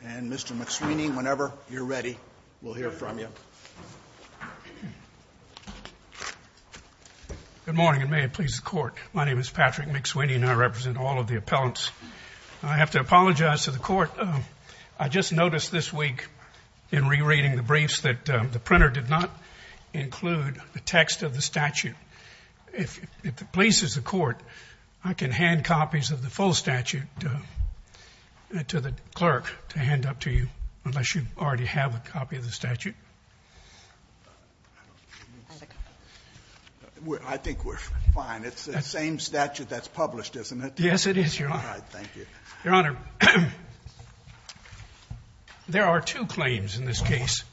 And Mr. McSweeney, whenever you're ready, we'll hear from you. Good morning, and may it please the Court. My name is Patrick McSweeney, and I represent all of the appellants. I have to apologize to the Court. I just noticed this week, in re-reading the briefs, that the printer did not include the text of the statute. If it pleases the Court, I can hand copies of the full statute to the clerk to hand up to you, unless you already have a copy of the statute. I think we're fine. It's the same statute that's published, isn't it? Yes, it is, Your Honor. All right, thank you. Your Honor, there are two claims in this case.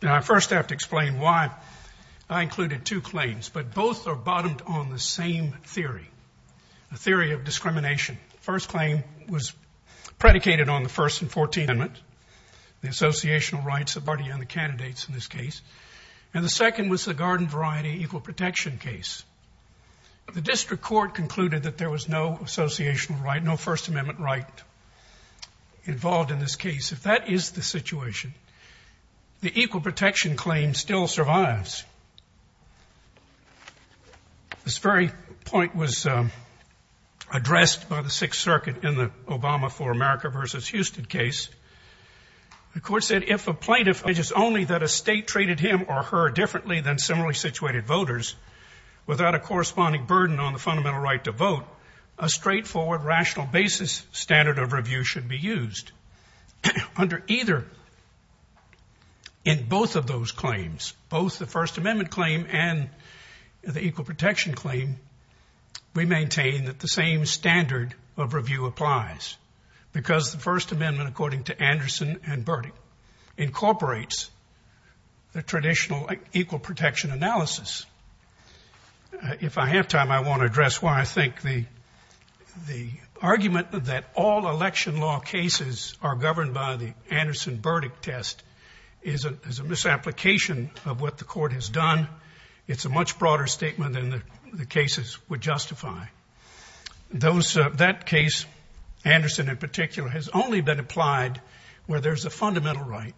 Now, I first have to explain why I included two claims, but both are bottomed on the same theory, the theory of discrimination. The first claim was predicated on the First and Fourteenth Amendment, the associational rights of the party and the candidates in this case. And the second was the garden variety equal protection case. The district court concluded that there was no associational right, no First Amendment right involved in this case. If that is the situation, the equal protection claim still survives. This very point was addressed by the Sixth Circuit in the Obama for America v. Houston case. The court said, if a plaintiff alleges only that a state treated him or her differently than similarly situated voters, without a corresponding burden on the fundamental right to vote, a straightforward, rational basis standard of review should be used. Under either, in both of those claims, both the First Amendment claim and the equal protection claim, we maintain that the same standard of review applies, because the First Amendment, according to Anderson and Burdick, incorporates the traditional equal protection analysis. If I have time, I want to address why I think the argument that all election law cases are governed by the Anderson-Burdick test is a misapplication of what the court has done. It's a much broader statement than the cases would justify. That case, Anderson in particular, has only been applied where there's a fundamental right,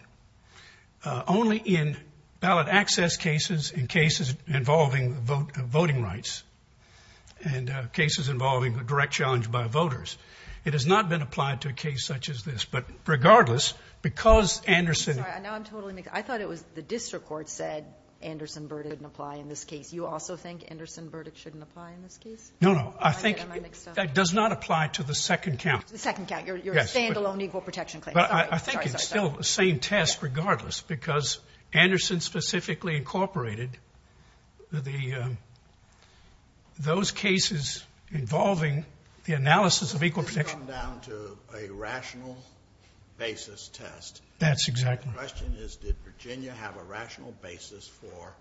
only in ballot access cases and cases involving voting rights and cases involving direct challenge by voters. It has not been applied to a case such as this. But regardless, because Anderson- Sorry, now I'm totally mixed up. I thought it was the district court said Anderson-Burdick didn't apply in this case. You also think Anderson-Burdick shouldn't apply in this case? No, no. I think- I'm getting my mixed up. That does not apply to the second count. The second count. Yes. Your standalone equal protection claim. Sorry, sorry, sorry. But I think it's still the same test regardless, because Anderson specifically incorporated those cases involving the analysis of equal protection. We've come down to a rational basis test. That's exactly- The question is, did Virginia have a rational basis for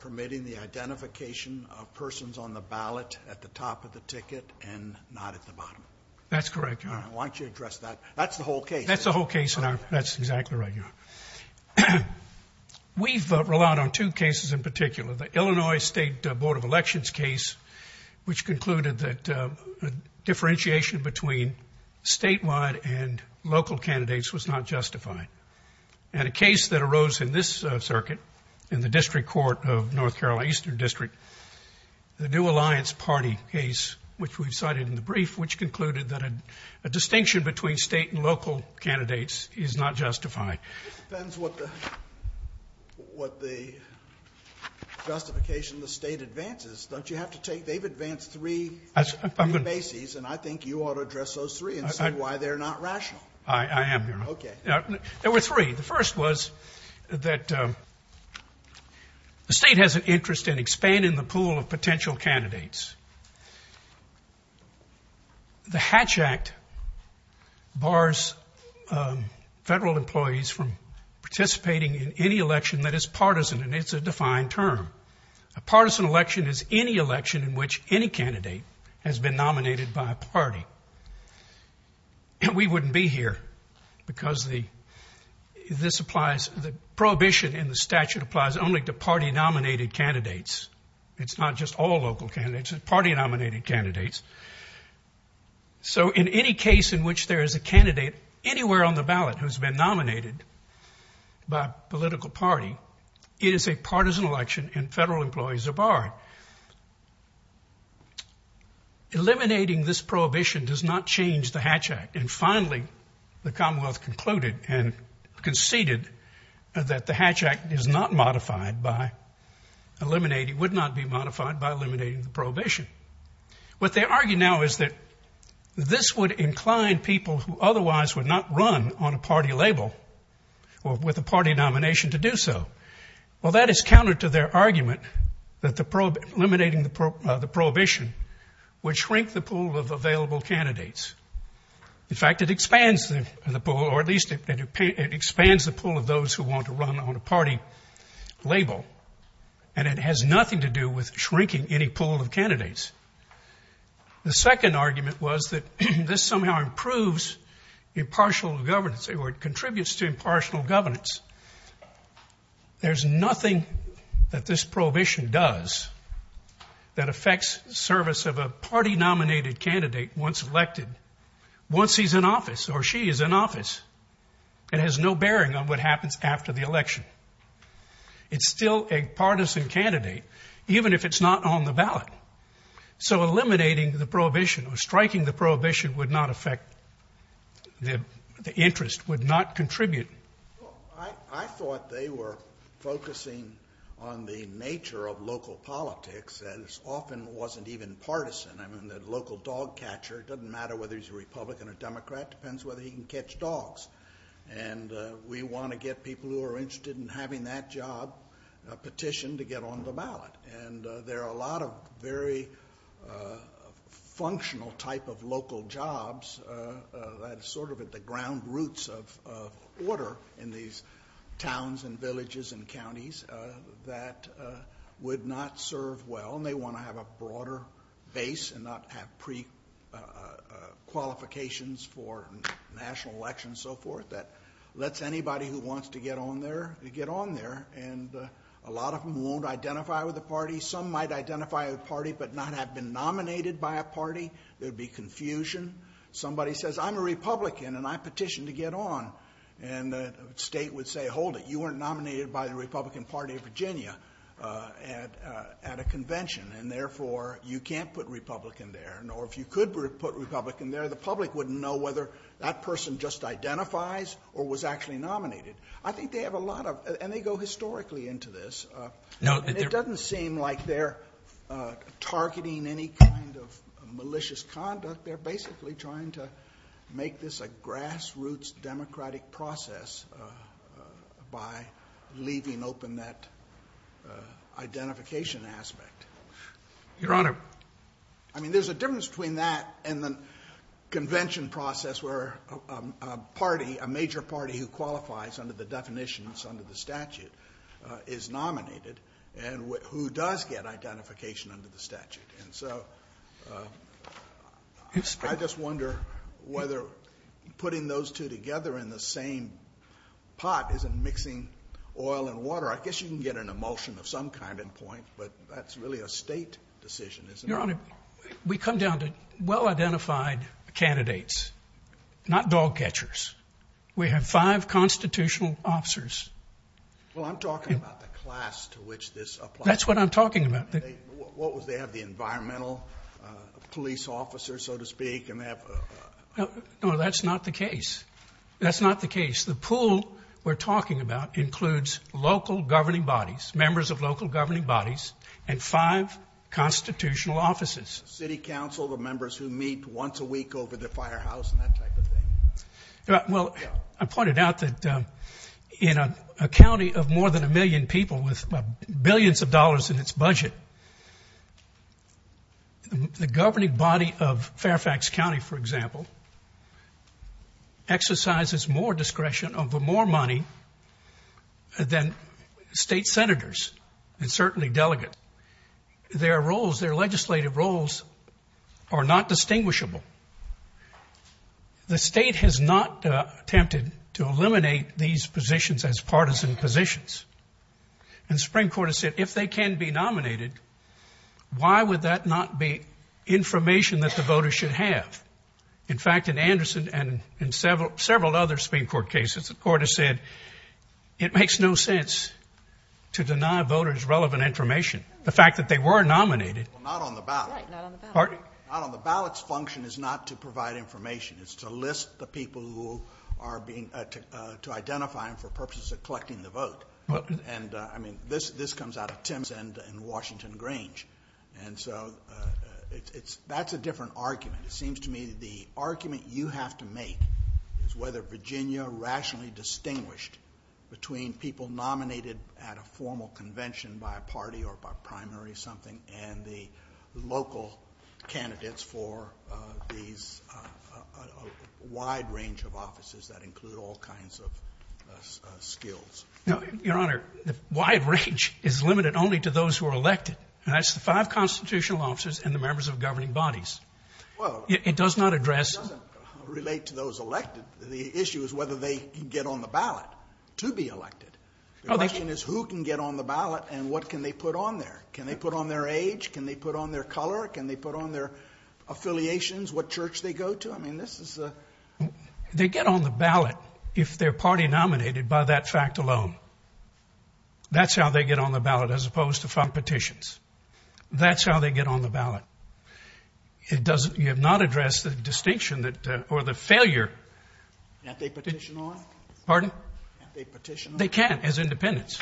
permitting the identification of persons on the ballot at the top of the ticket and not at the bottom? That's correct, Your Honor. Why don't you address that? That's the whole case. That's the whole case, Your Honor. That's exactly right, Your Honor. We've relied on two cases in particular. The Illinois State Board of Elections case, which concluded that differentiation between statewide and local candidates was not justified. And a case that arose in this circuit, in the district court of North Carolina Eastern District, the New Alliance Party case, which we've cited in the brief, which concluded that a distinction between state and local candidates is not justified. It depends what the justification the state advances. Don't you have to take- they've advanced three bases, and I think you ought to address those three and see why they're not rational. I am, Your Honor. Okay. There were three. The first was that the state has an interest in expanding the pool of potential candidates. The Hatch Act bars federal employees from participating in any election that is partisan, and it's a defined term. A partisan election is any election in which any candidate has been nominated by a party. We wouldn't be here because this applies- the prohibition in the statute applies only to party-nominated candidates. It's not just all local candidates. It's party-nominated candidates. So in any case in which there is a candidate anywhere on the ballot who's been nominated by a political party, it is a partisan election and federal employees are barred. Eliminating this prohibition does not change the Hatch Act. And finally, the Commonwealth concluded and conceded that the Hatch Act is not modified by eliminating- would not be modified by eliminating the prohibition. What they argue now is that this would incline people who otherwise would not run on a party label or with a party nomination to do so. Well, that is counter to their argument that eliminating the prohibition would shrink the pool of available candidates. In fact, it expands the pool, or at least it expands the pool of those who want to run on a party label, and it has nothing to do with shrinking any pool of candidates. The second argument was that this somehow improves impartial governance, or it contributes to impartial governance. There's nothing that this prohibition does that affects service of a party-nominated candidate once elected, once he's in office or she is in office. It has no bearing on what happens after the election. It's still a partisan candidate, even if it's not on the ballot. So eliminating the prohibition or striking the prohibition would not affect- the interest would not contribute. Well, I thought they were focusing on the nature of local politics that often wasn't even partisan. I mean, the local dog catcher, it doesn't matter whether he's a Republican or Democrat, it depends whether he can catch dogs. And we want to get people who are interested in having that job petitioned to get on the ballot. And there are a lot of very functional type of local jobs that are sort of at the ground roots of order in these towns and villages and counties that would not serve well. And they want to have a broader base and not have pre-qualifications for national elections and so forth. That lets anybody who wants to get on there to get on there. And a lot of them won't identify with the party. Some might identify with the party but not have been nominated by a party. There would be confusion. Somebody says, I'm a Republican and I petitioned to get on. And the state would say, hold it, you weren't nominated by the Republican Party of Virginia at a convention. And therefore, you can't put Republican there. Nor if you could put Republican there, the public wouldn't know whether that person just identifies or was actually nominated. I think they have a lot of- and they go historically into this. And it doesn't seem like they're targeting any kind of malicious conduct. They're basically trying to make this a grassroots democratic process by leaving open that identification aspect. Your Honor. I mean, there's a difference between that and the convention process where a party, a major party who qualifies under the definitions under the statute is nominated and who does get identification under the statute. And so I just wonder whether putting those two together in the same pot isn't mixing oil and water. I guess you can get an emulsion of some kind and point, but that's really a state decision, isn't it? Your Honor, we come down to well-identified candidates, not dog catchers. We have five constitutional officers. Well, I'm talking about the class to which this applies. That's what I'm talking about. What was that, the environmental police officer, so to speak? No, that's not the case. That's not the case. The pool we're talking about includes local governing bodies, members of local governing bodies, and five constitutional offices. City council, the members who meet once a week over the firehouse and that type of thing. Well, I pointed out that in a county of more than a million people with billions of dollars in its budget, the governing body of Fairfax County, for example, exercises more discretion over more money than state senators and certainly delegates. Their roles, their legislative roles are not distinguishable. The state has not attempted to eliminate these positions as partisan positions. And the Supreme Court has said if they can be nominated, why would that not be information that the voters should have? In fact, in Anderson and in several other Supreme Court cases, the Court has said it makes no sense to deny voters relevant information. The fact that they were nominated. Well, not on the ballot. Right, not on the ballot. Pardon? Not on the ballot. The function is not to provide information. It's to list the people who are being, to identify them for purposes of collecting the vote. And, I mean, this comes out of Tim's and Washington Grange. And so that's a different argument. It seems to me the argument you have to make is whether Virginia rationally distinguished between people nominated at a formal convention by a party or by primary something and the local candidates for these wide range of offices that include all kinds of skills. Your Honor, the wide range is limited only to those who are elected. And that's the five constitutional officers and the members of governing bodies. It does not address. It doesn't relate to those elected. The issue is whether they can get on the ballot to be elected. The question is who can get on the ballot and what can they put on there. Can they put on their age? Can they put on their color? Can they put on their affiliations, what church they go to? I mean, this is a... They get on the ballot if they're party nominated by that fact alone. That's how they get on the ballot as opposed to front petitions. That's how they get on the ballot. It doesn't, you have not addressed the distinction that, or the failure... Can't they petition on? Pardon? Can't they petition on? They can't as independents.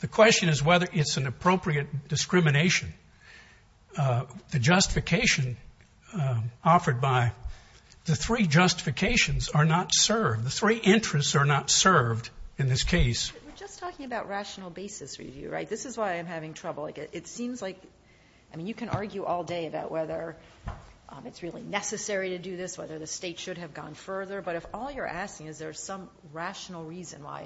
The question is whether it's an appropriate discrimination. The justification offered by the three justifications are not served. The three interests are not served in this case. We're just talking about rational basis review, right? This is why I'm having trouble. It seems like, I mean, you can argue all day about whether it's really necessary to do this, whether the state should have gone further. But if all you're asking is there's some rational reason why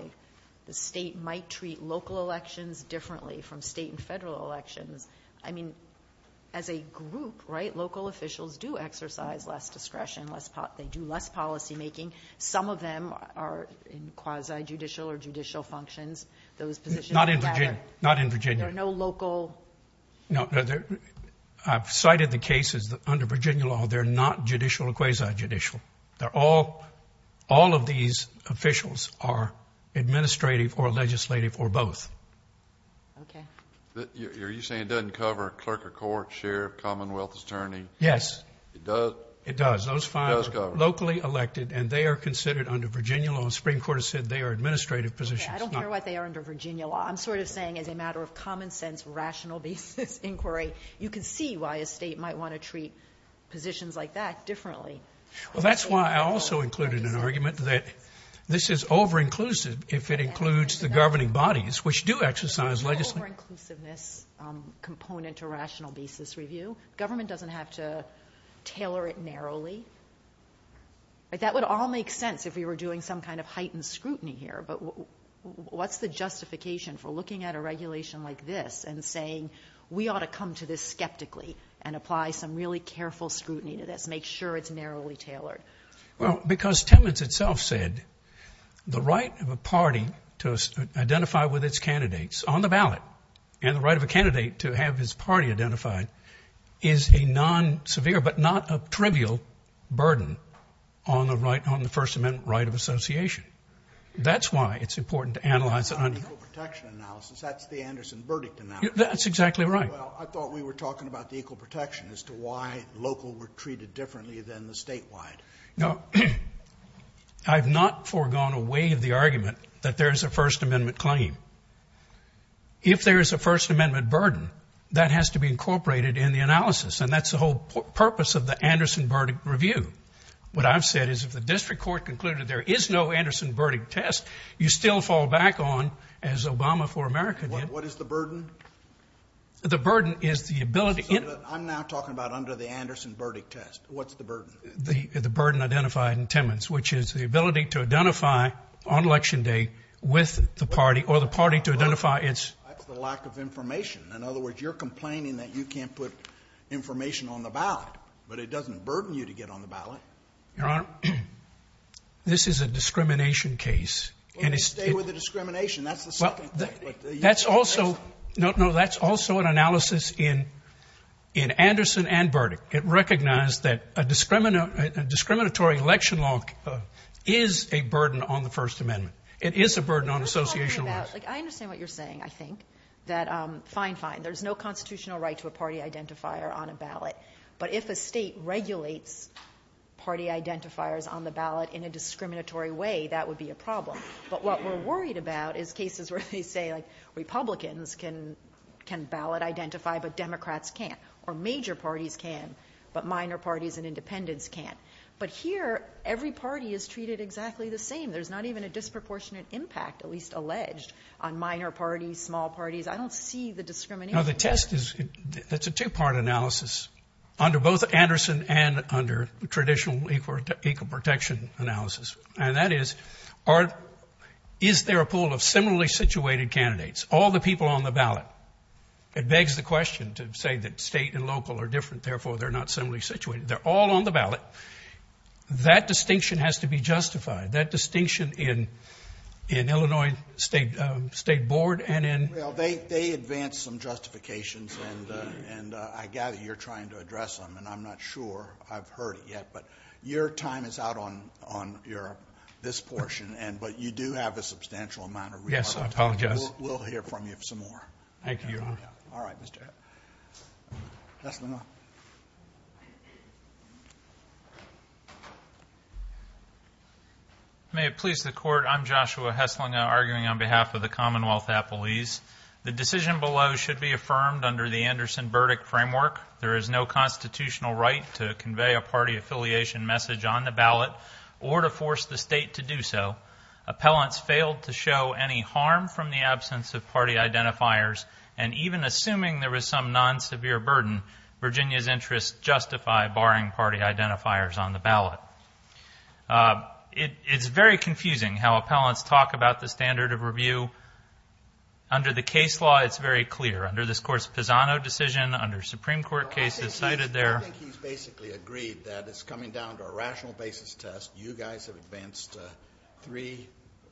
the state might treat local elections differently from state and federal elections. I mean, as a group, right, local officials do exercise less discretion. They do less policymaking. Some of them are in quasi-judicial or judicial functions. Those positions... Not in Virginia. Not in Virginia. There are no local... I've cited the cases under Virginia law. They're not judicial or quasi-judicial. They're all... All of these officials are administrative or legislative or both. Okay. Are you saying it doesn't cover a clerk of court, sheriff, commonwealth attorney? Yes. It does? It does. It does cover. Those five are locally elected, and they are considered under Virginia law. The Supreme Court has said they are administrative positions. Okay. I don't care what they are under Virginia law. I'm sort of saying as a matter of common sense, rational basis inquiry, you can see why a state might want to treat positions like that differently. Well, that's why I also included an argument that this is over-inclusive if it includes the governing bodies, which do exercise legislative... Is the over-inclusiveness component to rational basis review? Government doesn't have to tailor it narrowly. That would all make sense if we were doing some kind of heightened scrutiny here, but what's the justification for looking at a regulation like this and saying we ought to come to this skeptically and apply some really careful scrutiny to this, make sure it's narrowly tailored? Well, because Timmons itself said the right of a party to identify with its candidates on the ballot and the right of a candidate to have his party identified is a non-severe but not a trivial burden on the First Amendment right of association. That's why it's important to analyze... It's not an equal protection analysis. That's the Anderson verdict analysis. That's exactly right. Well, I thought we were talking about the equal protection as to why local were treated differently than the statewide. No, I've not forgone away of the argument that there is a First Amendment claim. If there is a First Amendment burden, that has to be incorporated in the analysis, and that's the whole purpose of the Anderson verdict review. What I've said is if the district court concluded there is no Anderson verdict test, you still fall back on, as Obama for America did. What is the burden? The burden is the ability... I'm now talking about under the Anderson verdict test. What's the burden? The burden identified in Timmons, which is the ability to identify on Election Day with the party or the party to identify its... That's the lack of information. In other words, you're complaining that you can't put information on the ballot, but it doesn't burden you to get on the ballot. Your Honor, this is a discrimination case. Well, you stay with the discrimination. That's the second thing. That's also an analysis in Anderson and verdict. It recognized that a discriminatory election law is a burden on the First Amendment. It is a burden on associational laws. I understand what you're saying, I think, that fine, fine, there's no constitutional right to a party identifier on a ballot, but if a state regulates party identifiers on the ballot in a discriminatory way, that would be a problem. But what we're worried about is cases where they say, like, Republicans can ballot identify, but Democrats can't, or major parties can, but minor parties and independents can't. But here, every party is treated exactly the same. There's not even a disproportionate impact, at least alleged, on minor parties, small parties. I don't see the discrimination. You know, the test is, it's a two-part analysis, under both Anderson and under traditional equal protection analysis. And that is, is there a pool of similarly situated candidates, all the people on the ballot? It begs the question to say that state and local are different, therefore they're not similarly situated. They're all on the ballot. That distinction has to be justified, that distinction in Illinois State Board and in- Well, they advance some justifications, and I gather you're trying to address them, and I'm not sure I've heard it yet, but your time is out on your, this portion, but you do have a substantial amount of remarks. Yes, I apologize. We'll hear from you some more. Thank you. All right, Mr. Hesslinger. May it please the Court, I'm Joshua Hesslinger, arguing on behalf of the Commonwealth Appellees. The decision below should be affirmed under the Anderson verdict framework. There is no constitutional right to convey a party affiliation message on the ballot or to force the state to do so. Appellants failed to show any harm from the absence of party identifiers, and even assuming there was some non-severe burden, Virginia's interests justify barring party identifiers on the ballot. It's very confusing how appellants talk about the standard of review. Under the case law, it's very clear. Under this Court's Pisano decision, under Supreme Court cases cited there- I think he's basically agreed that it's coming down to a rational basis test. You guys have advanced three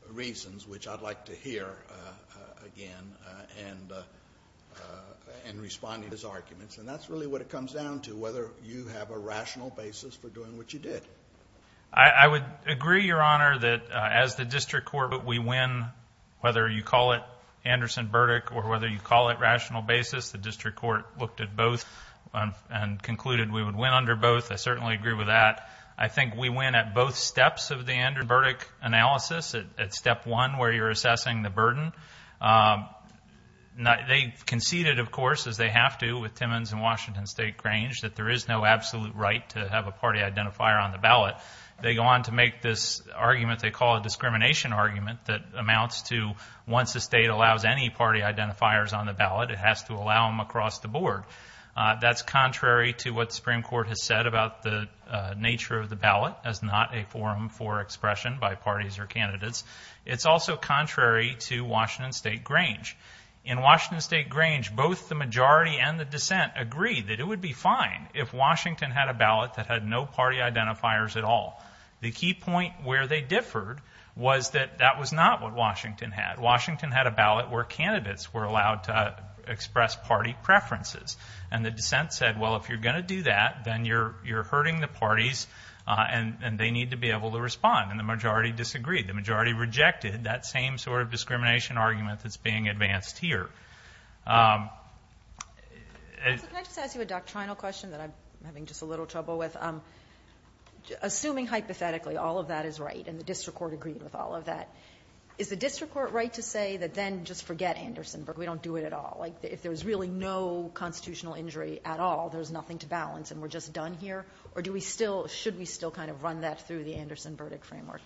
reasons, which I'd like to hear again, and responding to his arguments, and that's really what it comes down to, whether you have a rational basis for doing what you did. I would agree, Your Honor, that as the district court, we win, whether you call it Anderson verdict or whether you call it rational basis. The district court looked at both and concluded we would win under both. I certainly agree with that. I think we win at both steps of the Anderson verdict analysis, at step one where you're assessing the burden. They conceded, of course, as they have to with Timmons and Washington State Grange, that there is no absolute right to have a party identifier on the ballot. They go on to make this argument they call a discrimination argument that amounts to once the state allows any party identifiers on the ballot, it has to allow them across the board. That's contrary to what the Supreme Court has said about the nature of the ballot as not a forum for expression by parties or candidates. It's also contrary to Washington State Grange. In Washington State Grange, both the majority and the dissent agree that it would be fine if Washington had a ballot that had no party identifiers at all. The key point where they differed was that that was not what Washington had. Washington had a ballot where candidates were allowed to express party preferences, and the dissent said, well, if you're going to do that, then you're hurting the parties and they need to be able to respond, and the majority disagreed. The majority rejected that same sort of discrimination argument that's being advanced here. Can I just ask you a doctrinal question that I'm having just a little trouble with? Assuming hypothetically all of that is right and the district court agreed with all of that, is the district court right to say that then just forget Anderson-Burdick, we don't do it at all? If there's really no constitutional injury at all, there's nothing to balance, and we're just done here, or should we still kind of run that through the Anderson-Burdick framework?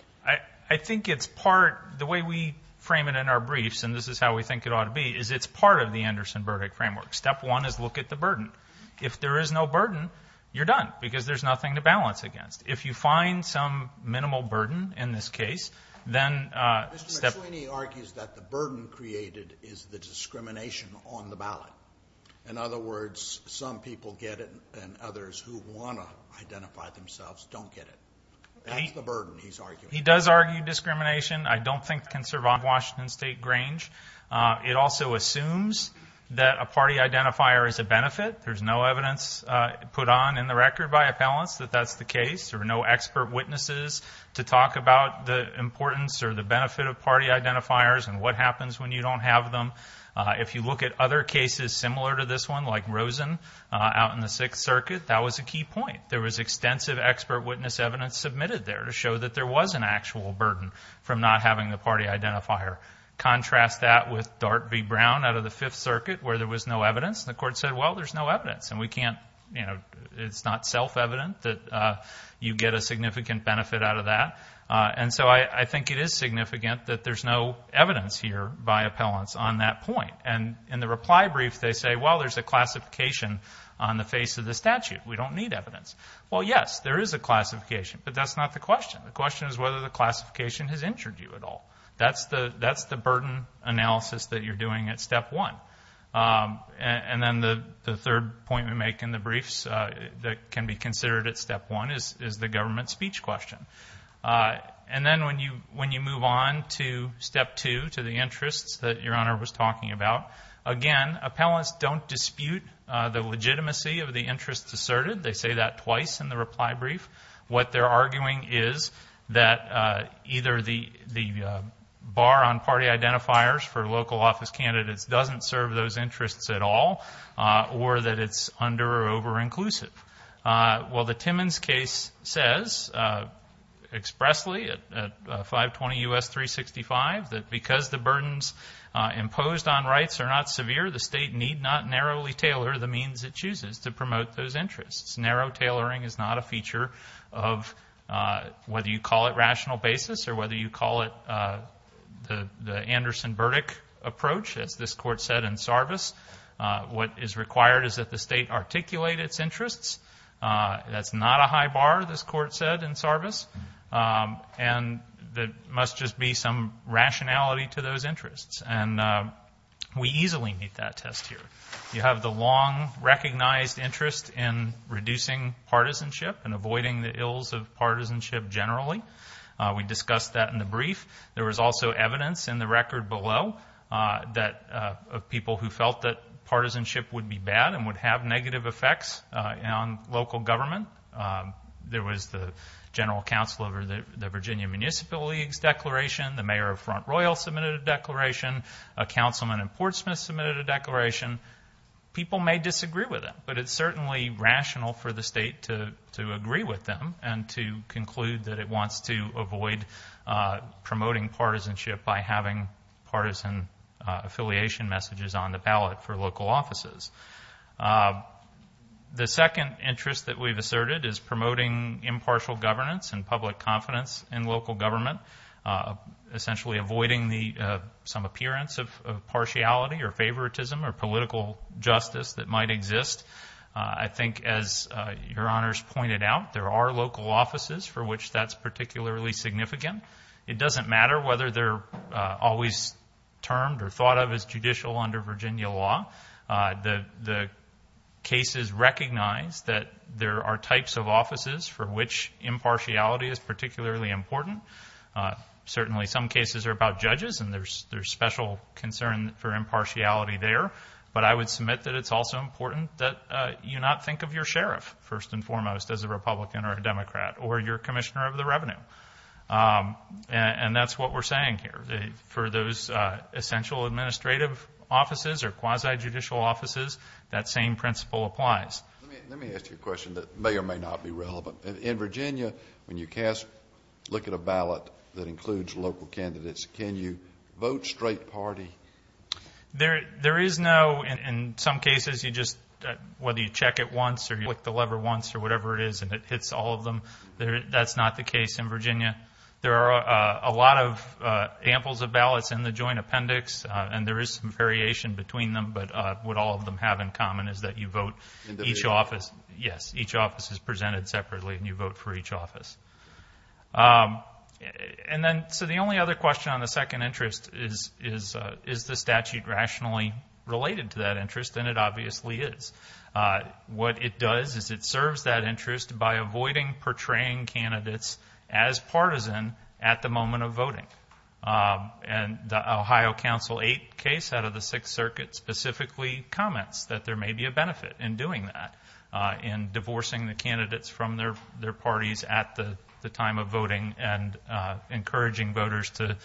I think it's part, the way we frame it in our briefs, and this is how we think it ought to be, is it's part of the Anderson-Burdick framework. Step one is look at the burden. If there is no burden, you're done, because there's nothing to balance against. If you find some minimal burden in this case, then step one. Mr. McSweeney argues that the burden created is the discrimination on the ballot. In other words, some people get it and others who want to identify themselves don't get it. That's the burden he's arguing. He does argue discrimination. I don't think it can survive Washington State Grange. It also assumes that a party identifier is a benefit. There's no evidence put on in the record by appellants that that's the case, or no expert witnesses to talk about the importance or the benefit of party identifiers and what happens when you don't have them. If you look at other cases similar to this one, like Rosen out in the Sixth Circuit, that was a key point. There was extensive expert witness evidence submitted there to show that there was an actual burden from not having the party identifier. Contrast that with Dart v. Brown out of the Fifth Circuit where there was no evidence. The court said, well, there's no evidence, and we can't, you know, it's not self-evident that you get a significant benefit out of that. And so I think it is significant that there's no evidence here by appellants on that point. And in the reply brief, they say, well, there's a classification on the face of the statute. We don't need evidence. Well, yes, there is a classification, but that's not the question. The question is whether the classification has injured you at all. That's the burden analysis that you're doing at Step 1. And then the third point we make in the briefs that can be considered at Step 1 is the government speech question. And then when you move on to Step 2, to the interests that Your Honor was talking about, again, appellants don't dispute the legitimacy of the interests asserted. They say that twice in the reply brief. What they're arguing is that either the bar on party identifiers for local office candidates doesn't serve those interests at all, or that it's under- or over-inclusive. Well, the Timmons case says expressly at 520 U.S. 365 that because the burdens imposed on rights are not severe, the state need not narrowly tailor the means it chooses to promote those interests. Narrow tailoring is not a feature of whether you call it rational basis or whether you call it the Anderson-Burdick approach, as this Court said in Sarvis. What is required is that the state articulate its interests. That's not a high bar, this Court said in Sarvis. And there must just be some rationality to those interests. And we easily meet that test here. You have the long-recognized interest in reducing partisanship and avoiding the ills of partisanship generally. We discussed that in the brief. There was also evidence in the record below of people who felt that partisanship would be bad and would have negative effects on local government. There was the general counsel over the Virginia Municipal League's declaration. The mayor of Front Royal submitted a declaration. A councilman in Portsmouth submitted a declaration. People may disagree with it, but it's certainly rational for the state to agree with them and to conclude that it wants to avoid promoting partisanship by having partisan affiliation messages on the ballot for local offices. The second interest that we've asserted is promoting impartial governance and public confidence in local government, essentially avoiding some appearance of partiality or favoritism or political justice that might exist. I think, as Your Honors pointed out, there are local offices for which that's particularly significant. It doesn't matter whether they're always termed or thought of as judicial under Virginia law. The cases recognize that there are types of offices for which impartiality is particularly important. Certainly some cases are about judges, and there's special concern for impartiality there. But I would submit that it's also important that you not think of your sheriff, first and foremost, as a Republican or a Democrat or your commissioner of the revenue. And that's what we're saying here. For those essential administrative offices or quasi-judicial offices, that same principle applies. Let me ask you a question that may or may not be relevant. In Virginia, when you look at a ballot that includes local candidates, can you vote straight party? There is no. In some cases, you just, whether you check it once or you click the lever once or whatever it is and it hits all of them, that's not the case in Virginia. There are a lot of amples of ballots in the joint appendix, and there is some variation between them, but what all of them have in common is that you vote each office. Yes, each office is presented separately and you vote for each office. And then, so the only other question on the second interest is, is the statute rationally related to that interest? And it obviously is. What it does is it serves that interest by avoiding portraying candidates as partisan at the moment of voting. And the Ohio Council 8 case out of the Sixth Circuit specifically comments that there may be a benefit in doing that, in divorcing the candidates from their parties at the time of voting and encouraging voters to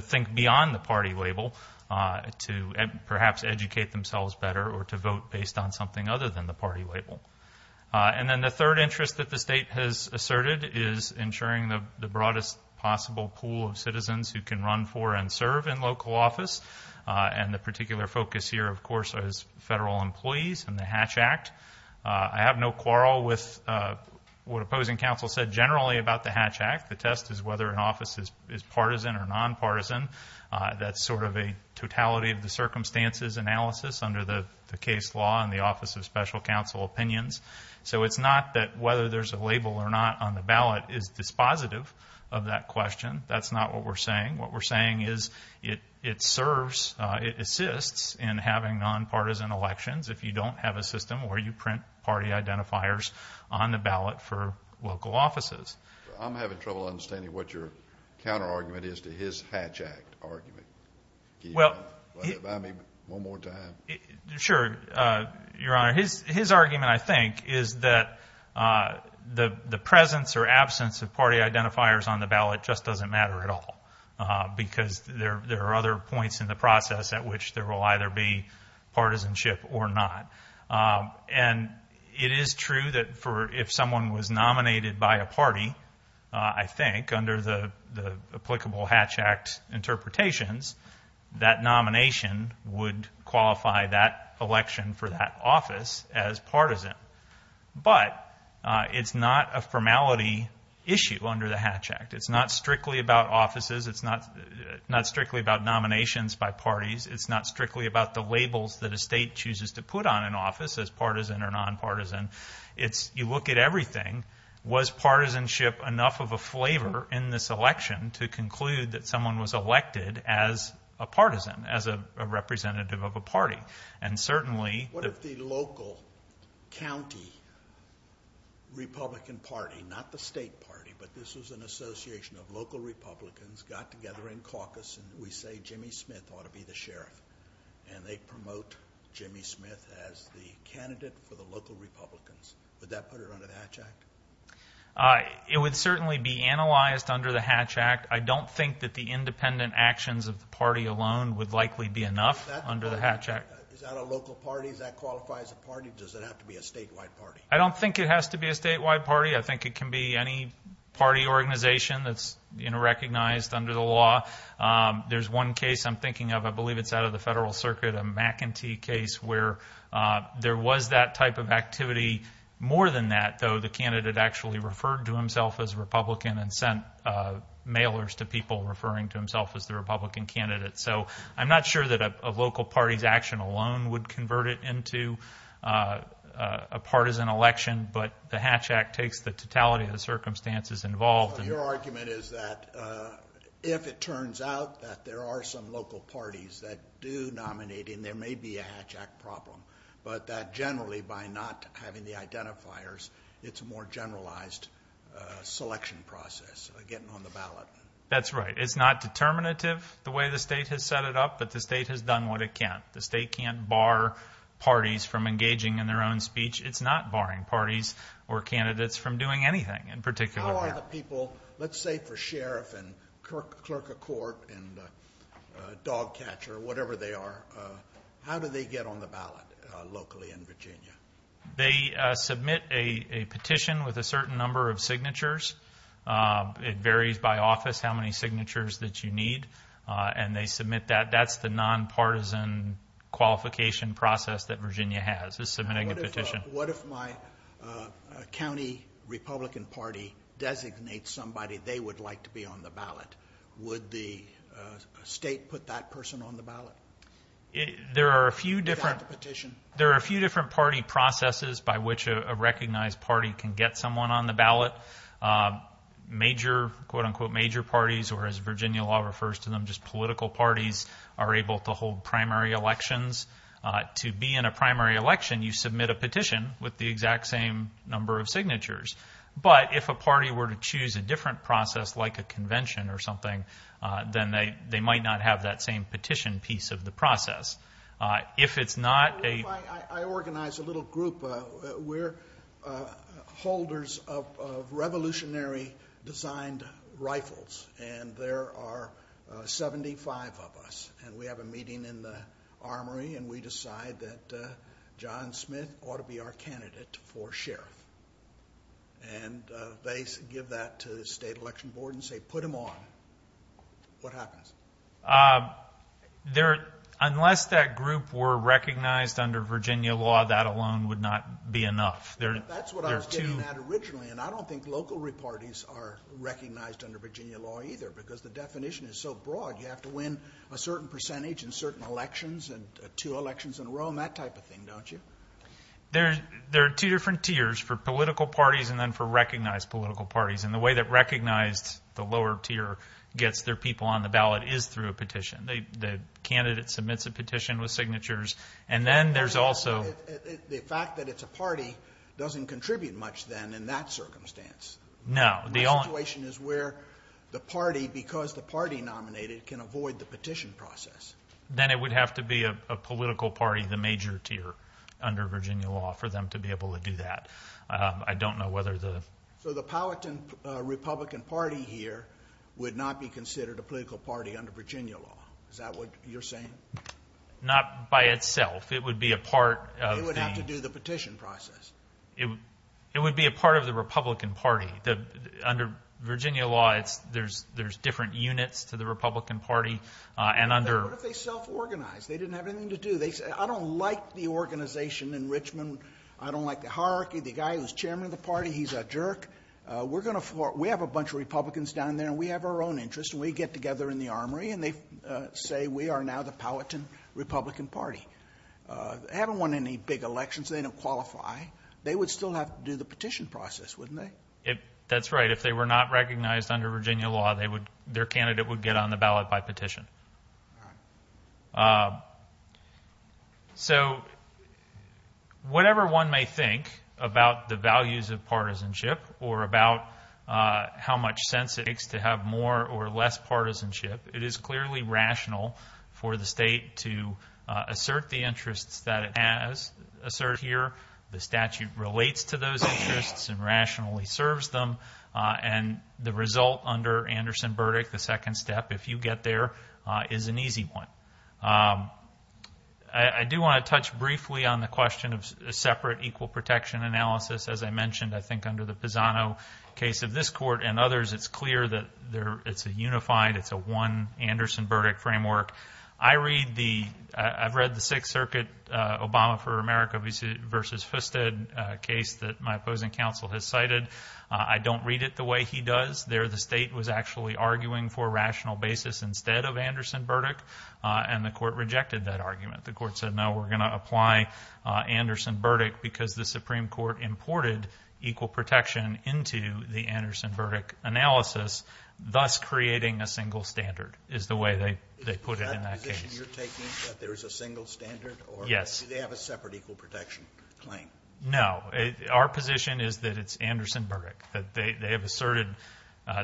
think beyond the party label to perhaps educate themselves better or to vote based on something other than the party label. And then the third interest that the state has asserted is ensuring the broadest possible pool of citizens who can run for and serve in local office. And the particular focus here, of course, is federal employees and the Hatch Act. I have no quarrel with what opposing counsel said generally about the Hatch Act. The test is whether an office is partisan or nonpartisan. That's sort of a totality of the circumstances analysis under the case law on the Office of Special Counsel Opinions. So it's not that whether there's a label or not on the ballot is dispositive of that question. That's not what we're saying. What we're saying is it serves, it assists in having nonpartisan elections if you don't have a system where you print party identifiers on the ballot for local offices. I'm having trouble understanding what your counterargument is to his Hatch Act argument. Can you remind me one more time? Sure, Your Honor. His argument, I think, is that the presence or absence of party identifiers on the ballot just doesn't matter at all because there are other points in the process at which there will either be partisanship or not. And it is true that if someone was nominated by a party, I think, under the applicable Hatch Act interpretations, that nomination would qualify that election for that office as partisan. But it's not a formality issue under the Hatch Act. It's not strictly about offices. It's not strictly about nominations by parties. It's not strictly about the labels that a state chooses to put on an office as partisan or nonpartisan. You look at everything. Was partisanship enough of a flavor in this election to conclude that someone was elected as a partisan, as a representative of a party? What if the local county Republican Party, not the state party, but this was an association of local Republicans, got together in caucus, and we say Jimmy Smith ought to be the sheriff, and they promote Jimmy Smith as the candidate for the local Republicans. Would that put it under the Hatch Act? It would certainly be analyzed under the Hatch Act. I don't think that the independent actions of the party alone would likely be enough under the Hatch Act. Is that a local party? Does that qualify as a party? Does it have to be a statewide party? I don't think it has to be a statewide party. I think it can be any party organization that's recognized under the law. There's one case I'm thinking of, I believe it's out of the Federal Circuit, a McEntee case where there was that type of activity. More than that, though, the candidate actually referred to himself as a Republican and sent mailers to people referring to himself as the Republican candidate. So I'm not sure that a local party's action alone would convert it into a partisan election, but the Hatch Act takes the totality of the circumstances involved. So your argument is that if it turns out that there are some local parties that do nominate him, there may be a Hatch Act problem, but that generally by not having the identifiers, it's a more generalized selection process, getting on the ballot. That's right. It's not determinative the way the state has set it up, but the state has done what it can. The state can't bar parties from engaging in their own speech. It's not barring parties or candidates from doing anything in particular. How are the people, let's say for sheriff and clerk of court and dog catcher, whatever they are, how do they get on the ballot locally in Virginia? They submit a petition with a certain number of signatures. It varies by office how many signatures that you need, and they submit that. That's the nonpartisan qualification process that Virginia has, is submitting a petition. What if my county Republican Party designates somebody they would like to be on the ballot? Would the state put that person on the ballot? There are a few different party processes by which a recognized party can get someone on the ballot. Major, quote, unquote, major parties, or as Virginia law refers to them, just political parties are able to hold primary elections. To be in a primary election, you submit a petition with the exact same number of signatures. But if a party were to choose a different process like a convention or something, then they might not have that same petition piece of the process. If it's not a- I organize a little group. We're holders of revolutionary designed rifles, and there are 75 of us, and we have a meeting in the armory, and we decide that John Smith ought to be our candidate for sheriff. And they give that to the state election board and say, put him on. What happens? Unless that group were recognized under Virginia law, that alone would not be enough. That's what I was getting at originally, and I don't think local repartees are recognized under Virginia law either because the definition is so broad. You have to win a certain percentage in certain elections and two elections in a row and that type of thing, don't you? There are two different tiers for political parties and then for recognized political parties, and the way that recognized, the lower tier, gets their people on the ballot is through a petition. The candidate submits a petition with signatures, and then there's also- The fact that it's a party doesn't contribute much then in that circumstance. No. My situation is where the party, because the party nominated, can avoid the petition process. Then it would have to be a political party, the major tier, under Virginia law for them to be able to do that. I don't know whether the- So the Powhatan Republican Party here would not be considered a political party under Virginia law. Is that what you're saying? Not by itself. It would be a part of the- It would have to do the petition process. It would be a part of the Republican Party. Under Virginia law, there's different units to the Republican Party and under- What if they self-organized? They didn't have anything to do. They said, I don't like the organization in Richmond. I don't like the hierarchy. The guy who's chairman of the party, he's a jerk. We have a bunch of Republicans down there, and we have our own interests, and we get together in the armory, and they say we are now the Powhatan Republican Party. They haven't won any big elections. They don't qualify. They would still have to do the petition process, wouldn't they? That's right. If they were not recognized under Virginia law, their candidate would get on the ballot by petition. So whatever one may think about the values of partisanship or about how much sense it makes to have more or less partisanship, it is clearly rational for the state to assert the interests that it has asserted here. The statute relates to those interests and rationally serves them, and the result under Anderson Burdick, the second step, if you get there, is an easy one. I do want to touch briefly on the question of separate equal protection analysis. As I mentioned, I think under the Pisano case of this court and others, it's clear that it's a unified, it's a one Anderson Burdick framework. I've read the Sixth Circuit Obama for America v. Fusted case that my opposing counsel has cited. I don't read it the way he does. There the state was actually arguing for a rational basis instead of Anderson Burdick, and the court rejected that argument. The court said, no, we're going to apply Anderson Burdick because the Supreme Court imported equal protection into the Anderson Burdick analysis, thus creating a single standard is the way they put it in that case. Is that the position you're taking, that there is a single standard? Yes. Or do they have a separate equal protection claim? No. Our position is that it's Anderson Burdick, that they have asserted,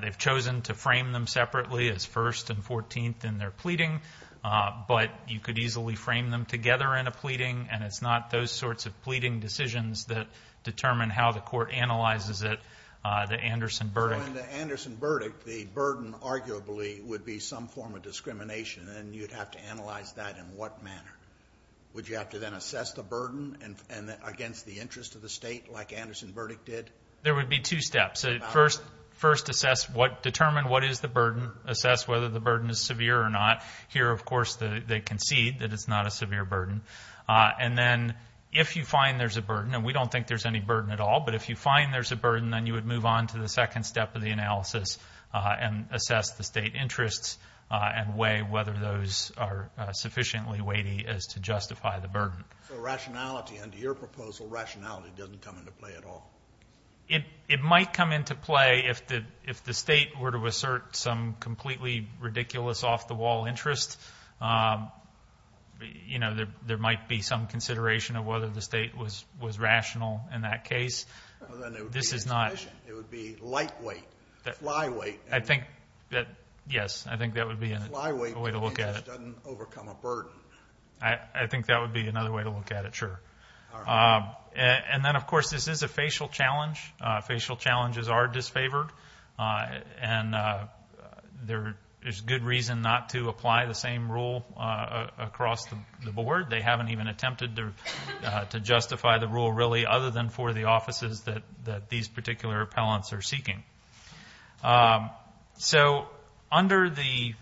they've chosen to frame them separately as first and 14th in their pleading, but you could easily frame them together in a pleading, and it's not those sorts of pleading decisions that determine how the court analyzes it, the Anderson Burdick. So in the Anderson Burdick, the burden arguably would be some form of discrimination, and you'd have to analyze that in what manner? Would you have to then assess the burden against the interest of the state like Anderson Burdick did? There would be two steps. First, assess, determine what is the burden, assess whether the burden is severe or not. Here, of course, they concede that it's not a severe burden. And then if you find there's a burden, and we don't think there's any burden at all, but if you find there's a burden, then you would move on to the second step of the analysis and assess the state interests and weigh whether those are sufficiently weighty as to justify the burden. So rationality, under your proposal, rationality doesn't come into play at all? It might come into play if the state were to assert some completely ridiculous off-the-wall interest. You know, there might be some consideration of whether the state was rational in that case. Well, then it would be insufficient. It would be lightweight, flyweight. Yes, I think that would be a way to look at it. Flyweight because it just doesn't overcome a burden. I think that would be another way to look at it, sure. And then, of course, this is a facial challenge. Facial challenges are disfavored. And there's good reason not to apply the same rule across the board. They haven't even attempted to justify the rule, really, other than for the offices that these particular appellants are seeking. So under the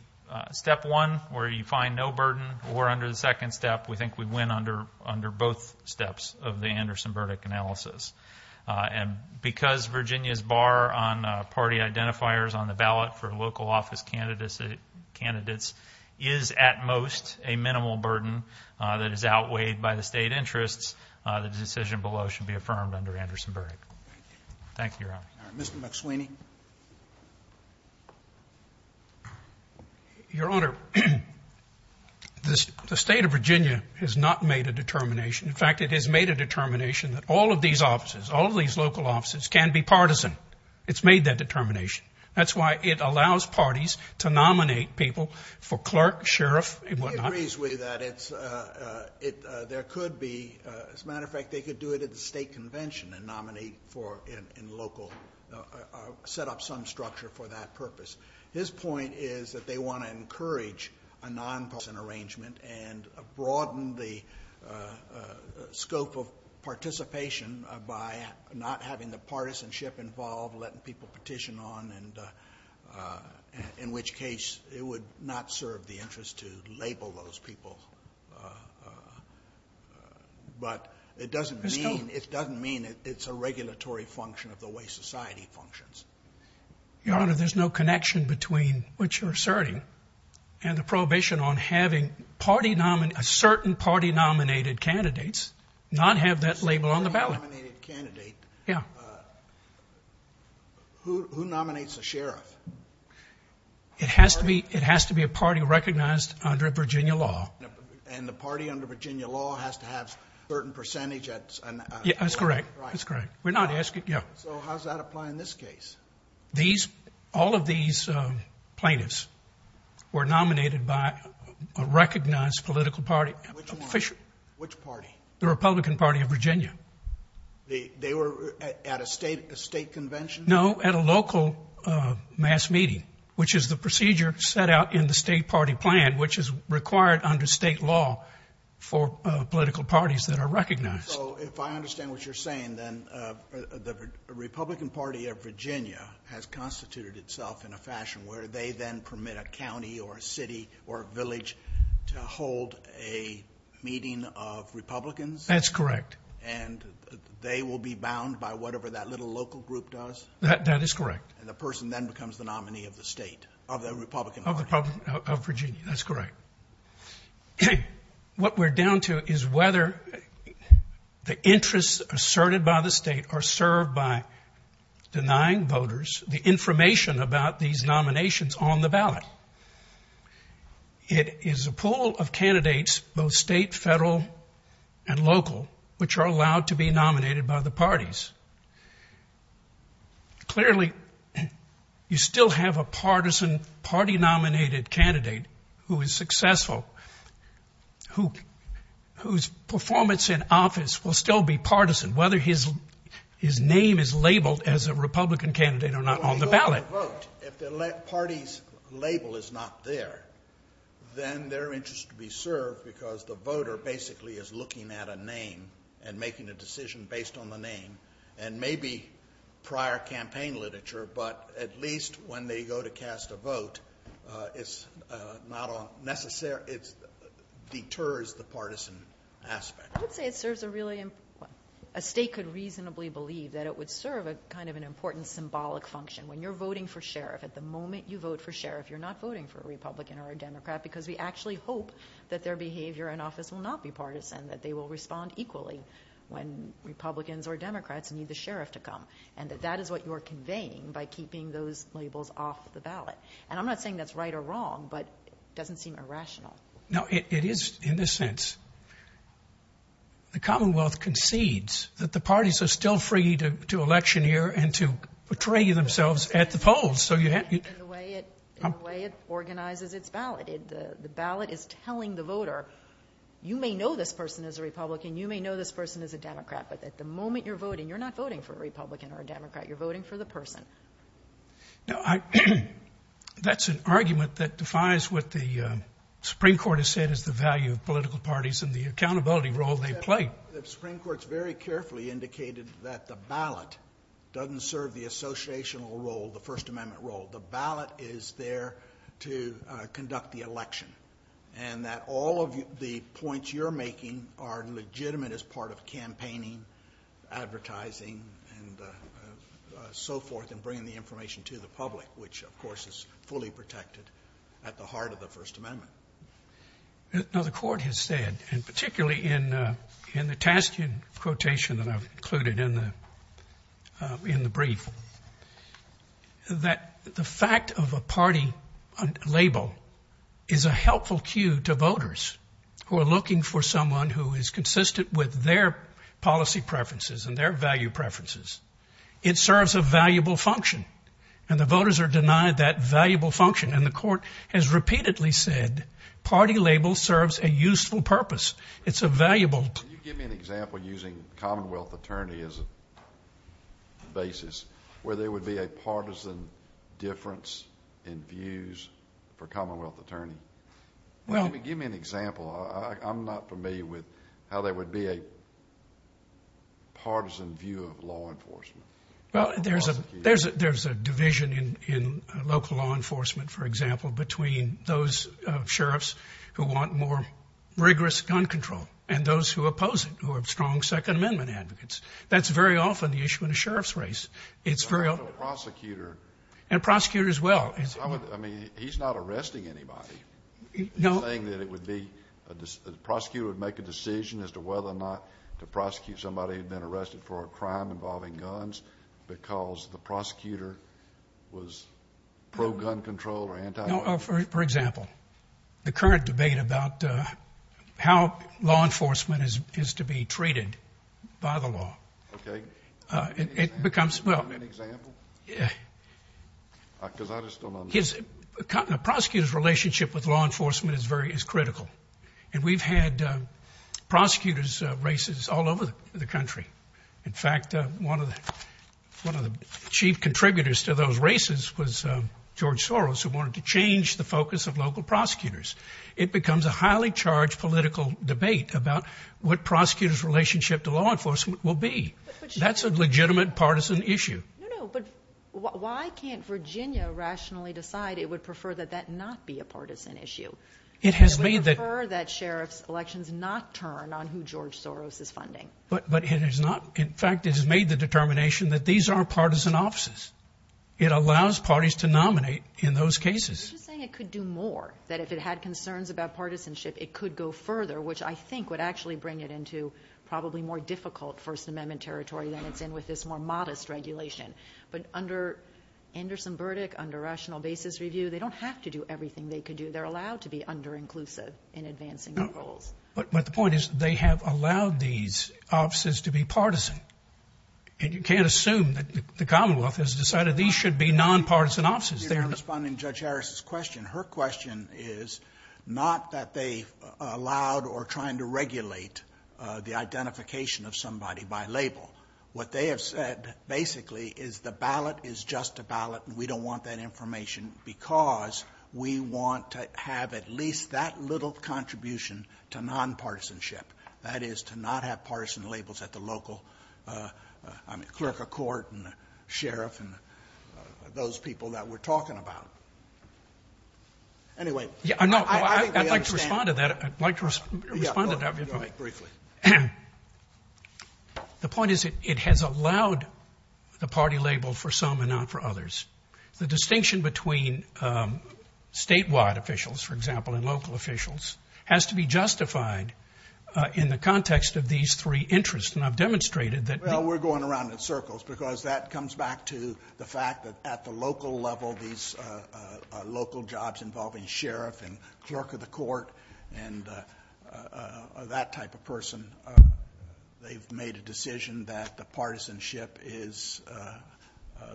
step one, where you find no burden, or under the second step, we think we win under both steps of the Anderson verdict analysis. And because Virginia's bar on party identifiers on the ballot for local office candidates is at most a minimal burden that is outweighed by the state interests, the decision below should be affirmed under Anderson verdict. Thank you, Your Honor. Mr. McSweeney. Your Honor, the state of Virginia has not made a determination. In fact, it has made a determination that all of these offices, all of these local offices, can be partisan. It's made that determination. That's why it allows parties to nominate people for clerk, sheriff, and whatnot. He agrees with you that there could be, as a matter of fact, they could do it at the state convention and set up some structure for that purpose. His point is that they want to encourage a nonpartisan arrangement and broaden the scope of participation by not having the partisanship involved, letting people petition on, in which case it would not serve the interest to label those people. But it doesn't mean it's a regulatory function of the way society functions. Your Honor, there's no connection between what you're asserting and the prohibition on having a certain party-nominated candidates not have that label on the ballot. A certain party-nominated candidate? Yeah. Who nominates a sheriff? It has to be a party recognized under Virginia law. And the party under Virginia law has to have a certain percentage? That's correct. Right. That's correct. We're not asking. So how does that apply in this case? All of these plaintiffs were nominated by a recognized political party. Which party? The Republican Party of Virginia. They were at a state convention? No, at a local mass meeting, which is the procedure set out in the state party plan, which is required under state law for political parties that are recognized. So if I understand what you're saying, then the Republican Party of Virginia has constituted itself in a fashion where they then permit a county or a city or a village to hold a meeting of Republicans? That's correct. And they will be bound by whatever that little local group does? That is correct. And the person then becomes the nominee of the state, of the Republican Party? Of Virginia. That's correct. What we're down to is whether the interests asserted by the state are served by denying voters the information about these nominations on the ballot. It is a pool of candidates, both state, federal, and local, which are allowed to be nominated by the parties. Clearly, you still have a partisan party-nominated candidate who is successful, whose performance in office will still be partisan, whether his name is labeled as a Republican candidate or not on the ballot. If the party's label is not there, then their interest will be served because the voter basically is looking at a name and making a decision based on the name and maybe prior campaign literature, but at least when they go to cast a vote, it deters the partisan aspect. I would say a state could reasonably believe that it would serve an important symbolic function. When you're voting for sheriff, at the moment you vote for sheriff, you're not voting for a Republican or a Democrat because we actually hope that their behavior in office will not be partisan, that they will respond equally when Republicans or Democrats need the sheriff to come, and that that is what you're conveying by keeping those labels off the ballot. I'm not saying that's right or wrong, but it doesn't seem irrational. It is in this sense. The Commonwealth concedes that the parties are still free to electioneer and to betray themselves at the polls. In the way it organizes its ballot, the ballot is telling the voter, you may know this person as a Republican, you may know this person as a Democrat, but at the moment you're voting, you're not voting for a Republican or a Democrat. You're voting for the person. That's an argument that defies what the Supreme Court has said is the value of political parties and the accountability role they play. The Supreme Court has very carefully indicated that the ballot doesn't serve the associational role, the First Amendment role. The ballot is there to conduct the election, and that all of the points you're making are legitimate as part of campaigning, advertising, and so forth, and bringing the information to the public, which, of course, is fully protected at the heart of the First Amendment. Now, the court has said, and particularly in the tasking quotation that I've included in the brief, that the fact of a party label is a helpful cue to voters who are looking for someone who is consistent with their policy preferences and their value preferences. It serves a valuable function, and the voters are denied that valuable function, and the court has repeatedly said party labels serves a useful purpose. It's a valuable— Can you give me an example, using Commonwealth attorney as a basis, where there would be a partisan difference in views for Commonwealth attorney? Give me an example. I'm not familiar with how there would be a partisan view of law enforcement. Well, there's a division in local law enforcement, for example, between those sheriffs who want more rigorous gun control and those who oppose it, who are strong Second Amendment advocates. That's very often the issue in a sheriff's race. It's very— And a prosecutor. And a prosecutor as well. I mean, he's not arresting anybody. No. He's saying that it would be—the prosecutor would make a decision as to whether or not to prosecute somebody who had been arrested for a crime involving guns because the prosecutor was pro-gun control or anti— For example, the current debate about how law enforcement is to be treated by the law. Okay. It becomes— Can you give me an example? Yeah. Because I just don't understand. A prosecutor's relationship with law enforcement is critical, and we've had prosecutors' races all over the country. In fact, one of the chief contributors to those races was George Soros, who wanted to change the focus of local prosecutors. It becomes a highly charged political debate about what prosecutors' relationship to law enforcement will be. That's a legitimate partisan issue. No, no, but why can't Virginia rationally decide it would prefer that that not be a partisan issue? It has made that— It would prefer that sheriffs' elections not turn on who George Soros is funding. But it has not—in fact, it has made the determination that these aren't partisan offices. It allows parties to nominate in those cases. I'm just saying it could do more, that if it had concerns about partisanship, it could go further, which I think would actually bring it into probably more difficult First Amendment territory than it's in with this more modest regulation. But under Anderson Burdick, under rational basis review, they don't have to do everything they could do. They're allowed to be under-inclusive in advancing their goals. But the point is they have allowed these offices to be partisan. And you can't assume that the Commonwealth has decided these should be non-partisan offices. Responding to Judge Harris's question, her question is not that they've allowed or trying to regulate the identification of somebody by label. What they have said basically is the ballot is just a ballot, and we don't want that information because we want to have at least that little contribution to non-partisanship, that is, to not have partisan labels at the local, I mean, clerk of court and sheriff and those people that we're talking about. Anyway, I think we understand. I'd like to respond to that. I'd like to respond to that briefly. The point is it has allowed the party label for some and not for others. The distinction between statewide officials, for example, and local officials has to be justified in the context of these three interests. And I've demonstrated that. Well, we're going around in circles because that comes back to the fact that at the local level, these local jobs involving sheriff and clerk of the court and that type of person, they've made a decision that the partisanship is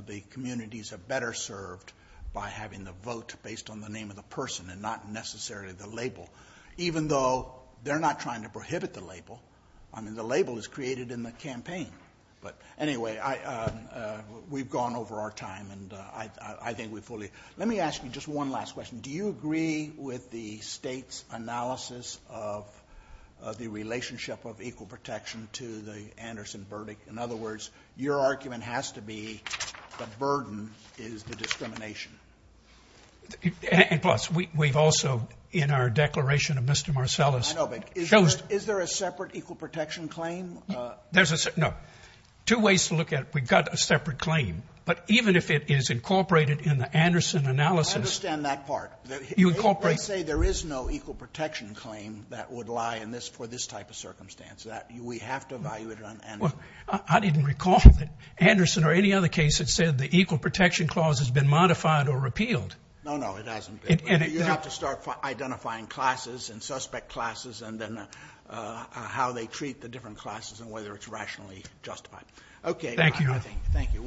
the communities are better served by having the vote based on the name of the person and not necessarily the label, even though they're not trying to prohibit the label. I mean, the label is created in the campaign. But anyway, we've gone over our time, and I think we fully. Let me ask you just one last question. Do you agree with the state's analysis of the relationship of equal protection to the Anderson verdict? In other words, your argument has to be the burden is the discrimination. And plus, we've also in our declaration of Mr. Marcellus. I know, but is there a separate equal protection claim? No. Two ways to look at it. We've got a separate claim. But even if it is incorporated in the Anderson analysis. I understand that part. You incorporate. Let's say there is no equal protection claim that would lie in this for this type of circumstance. We have to evaluate it on Anderson. Well, I didn't recall that Anderson or any other case that said the equal protection clause has been modified or repealed. No, no, it hasn't been. You have to start identifying classes and suspect classes and then how they treat the different classes and whether it's rationally justified. Okay. Thank you.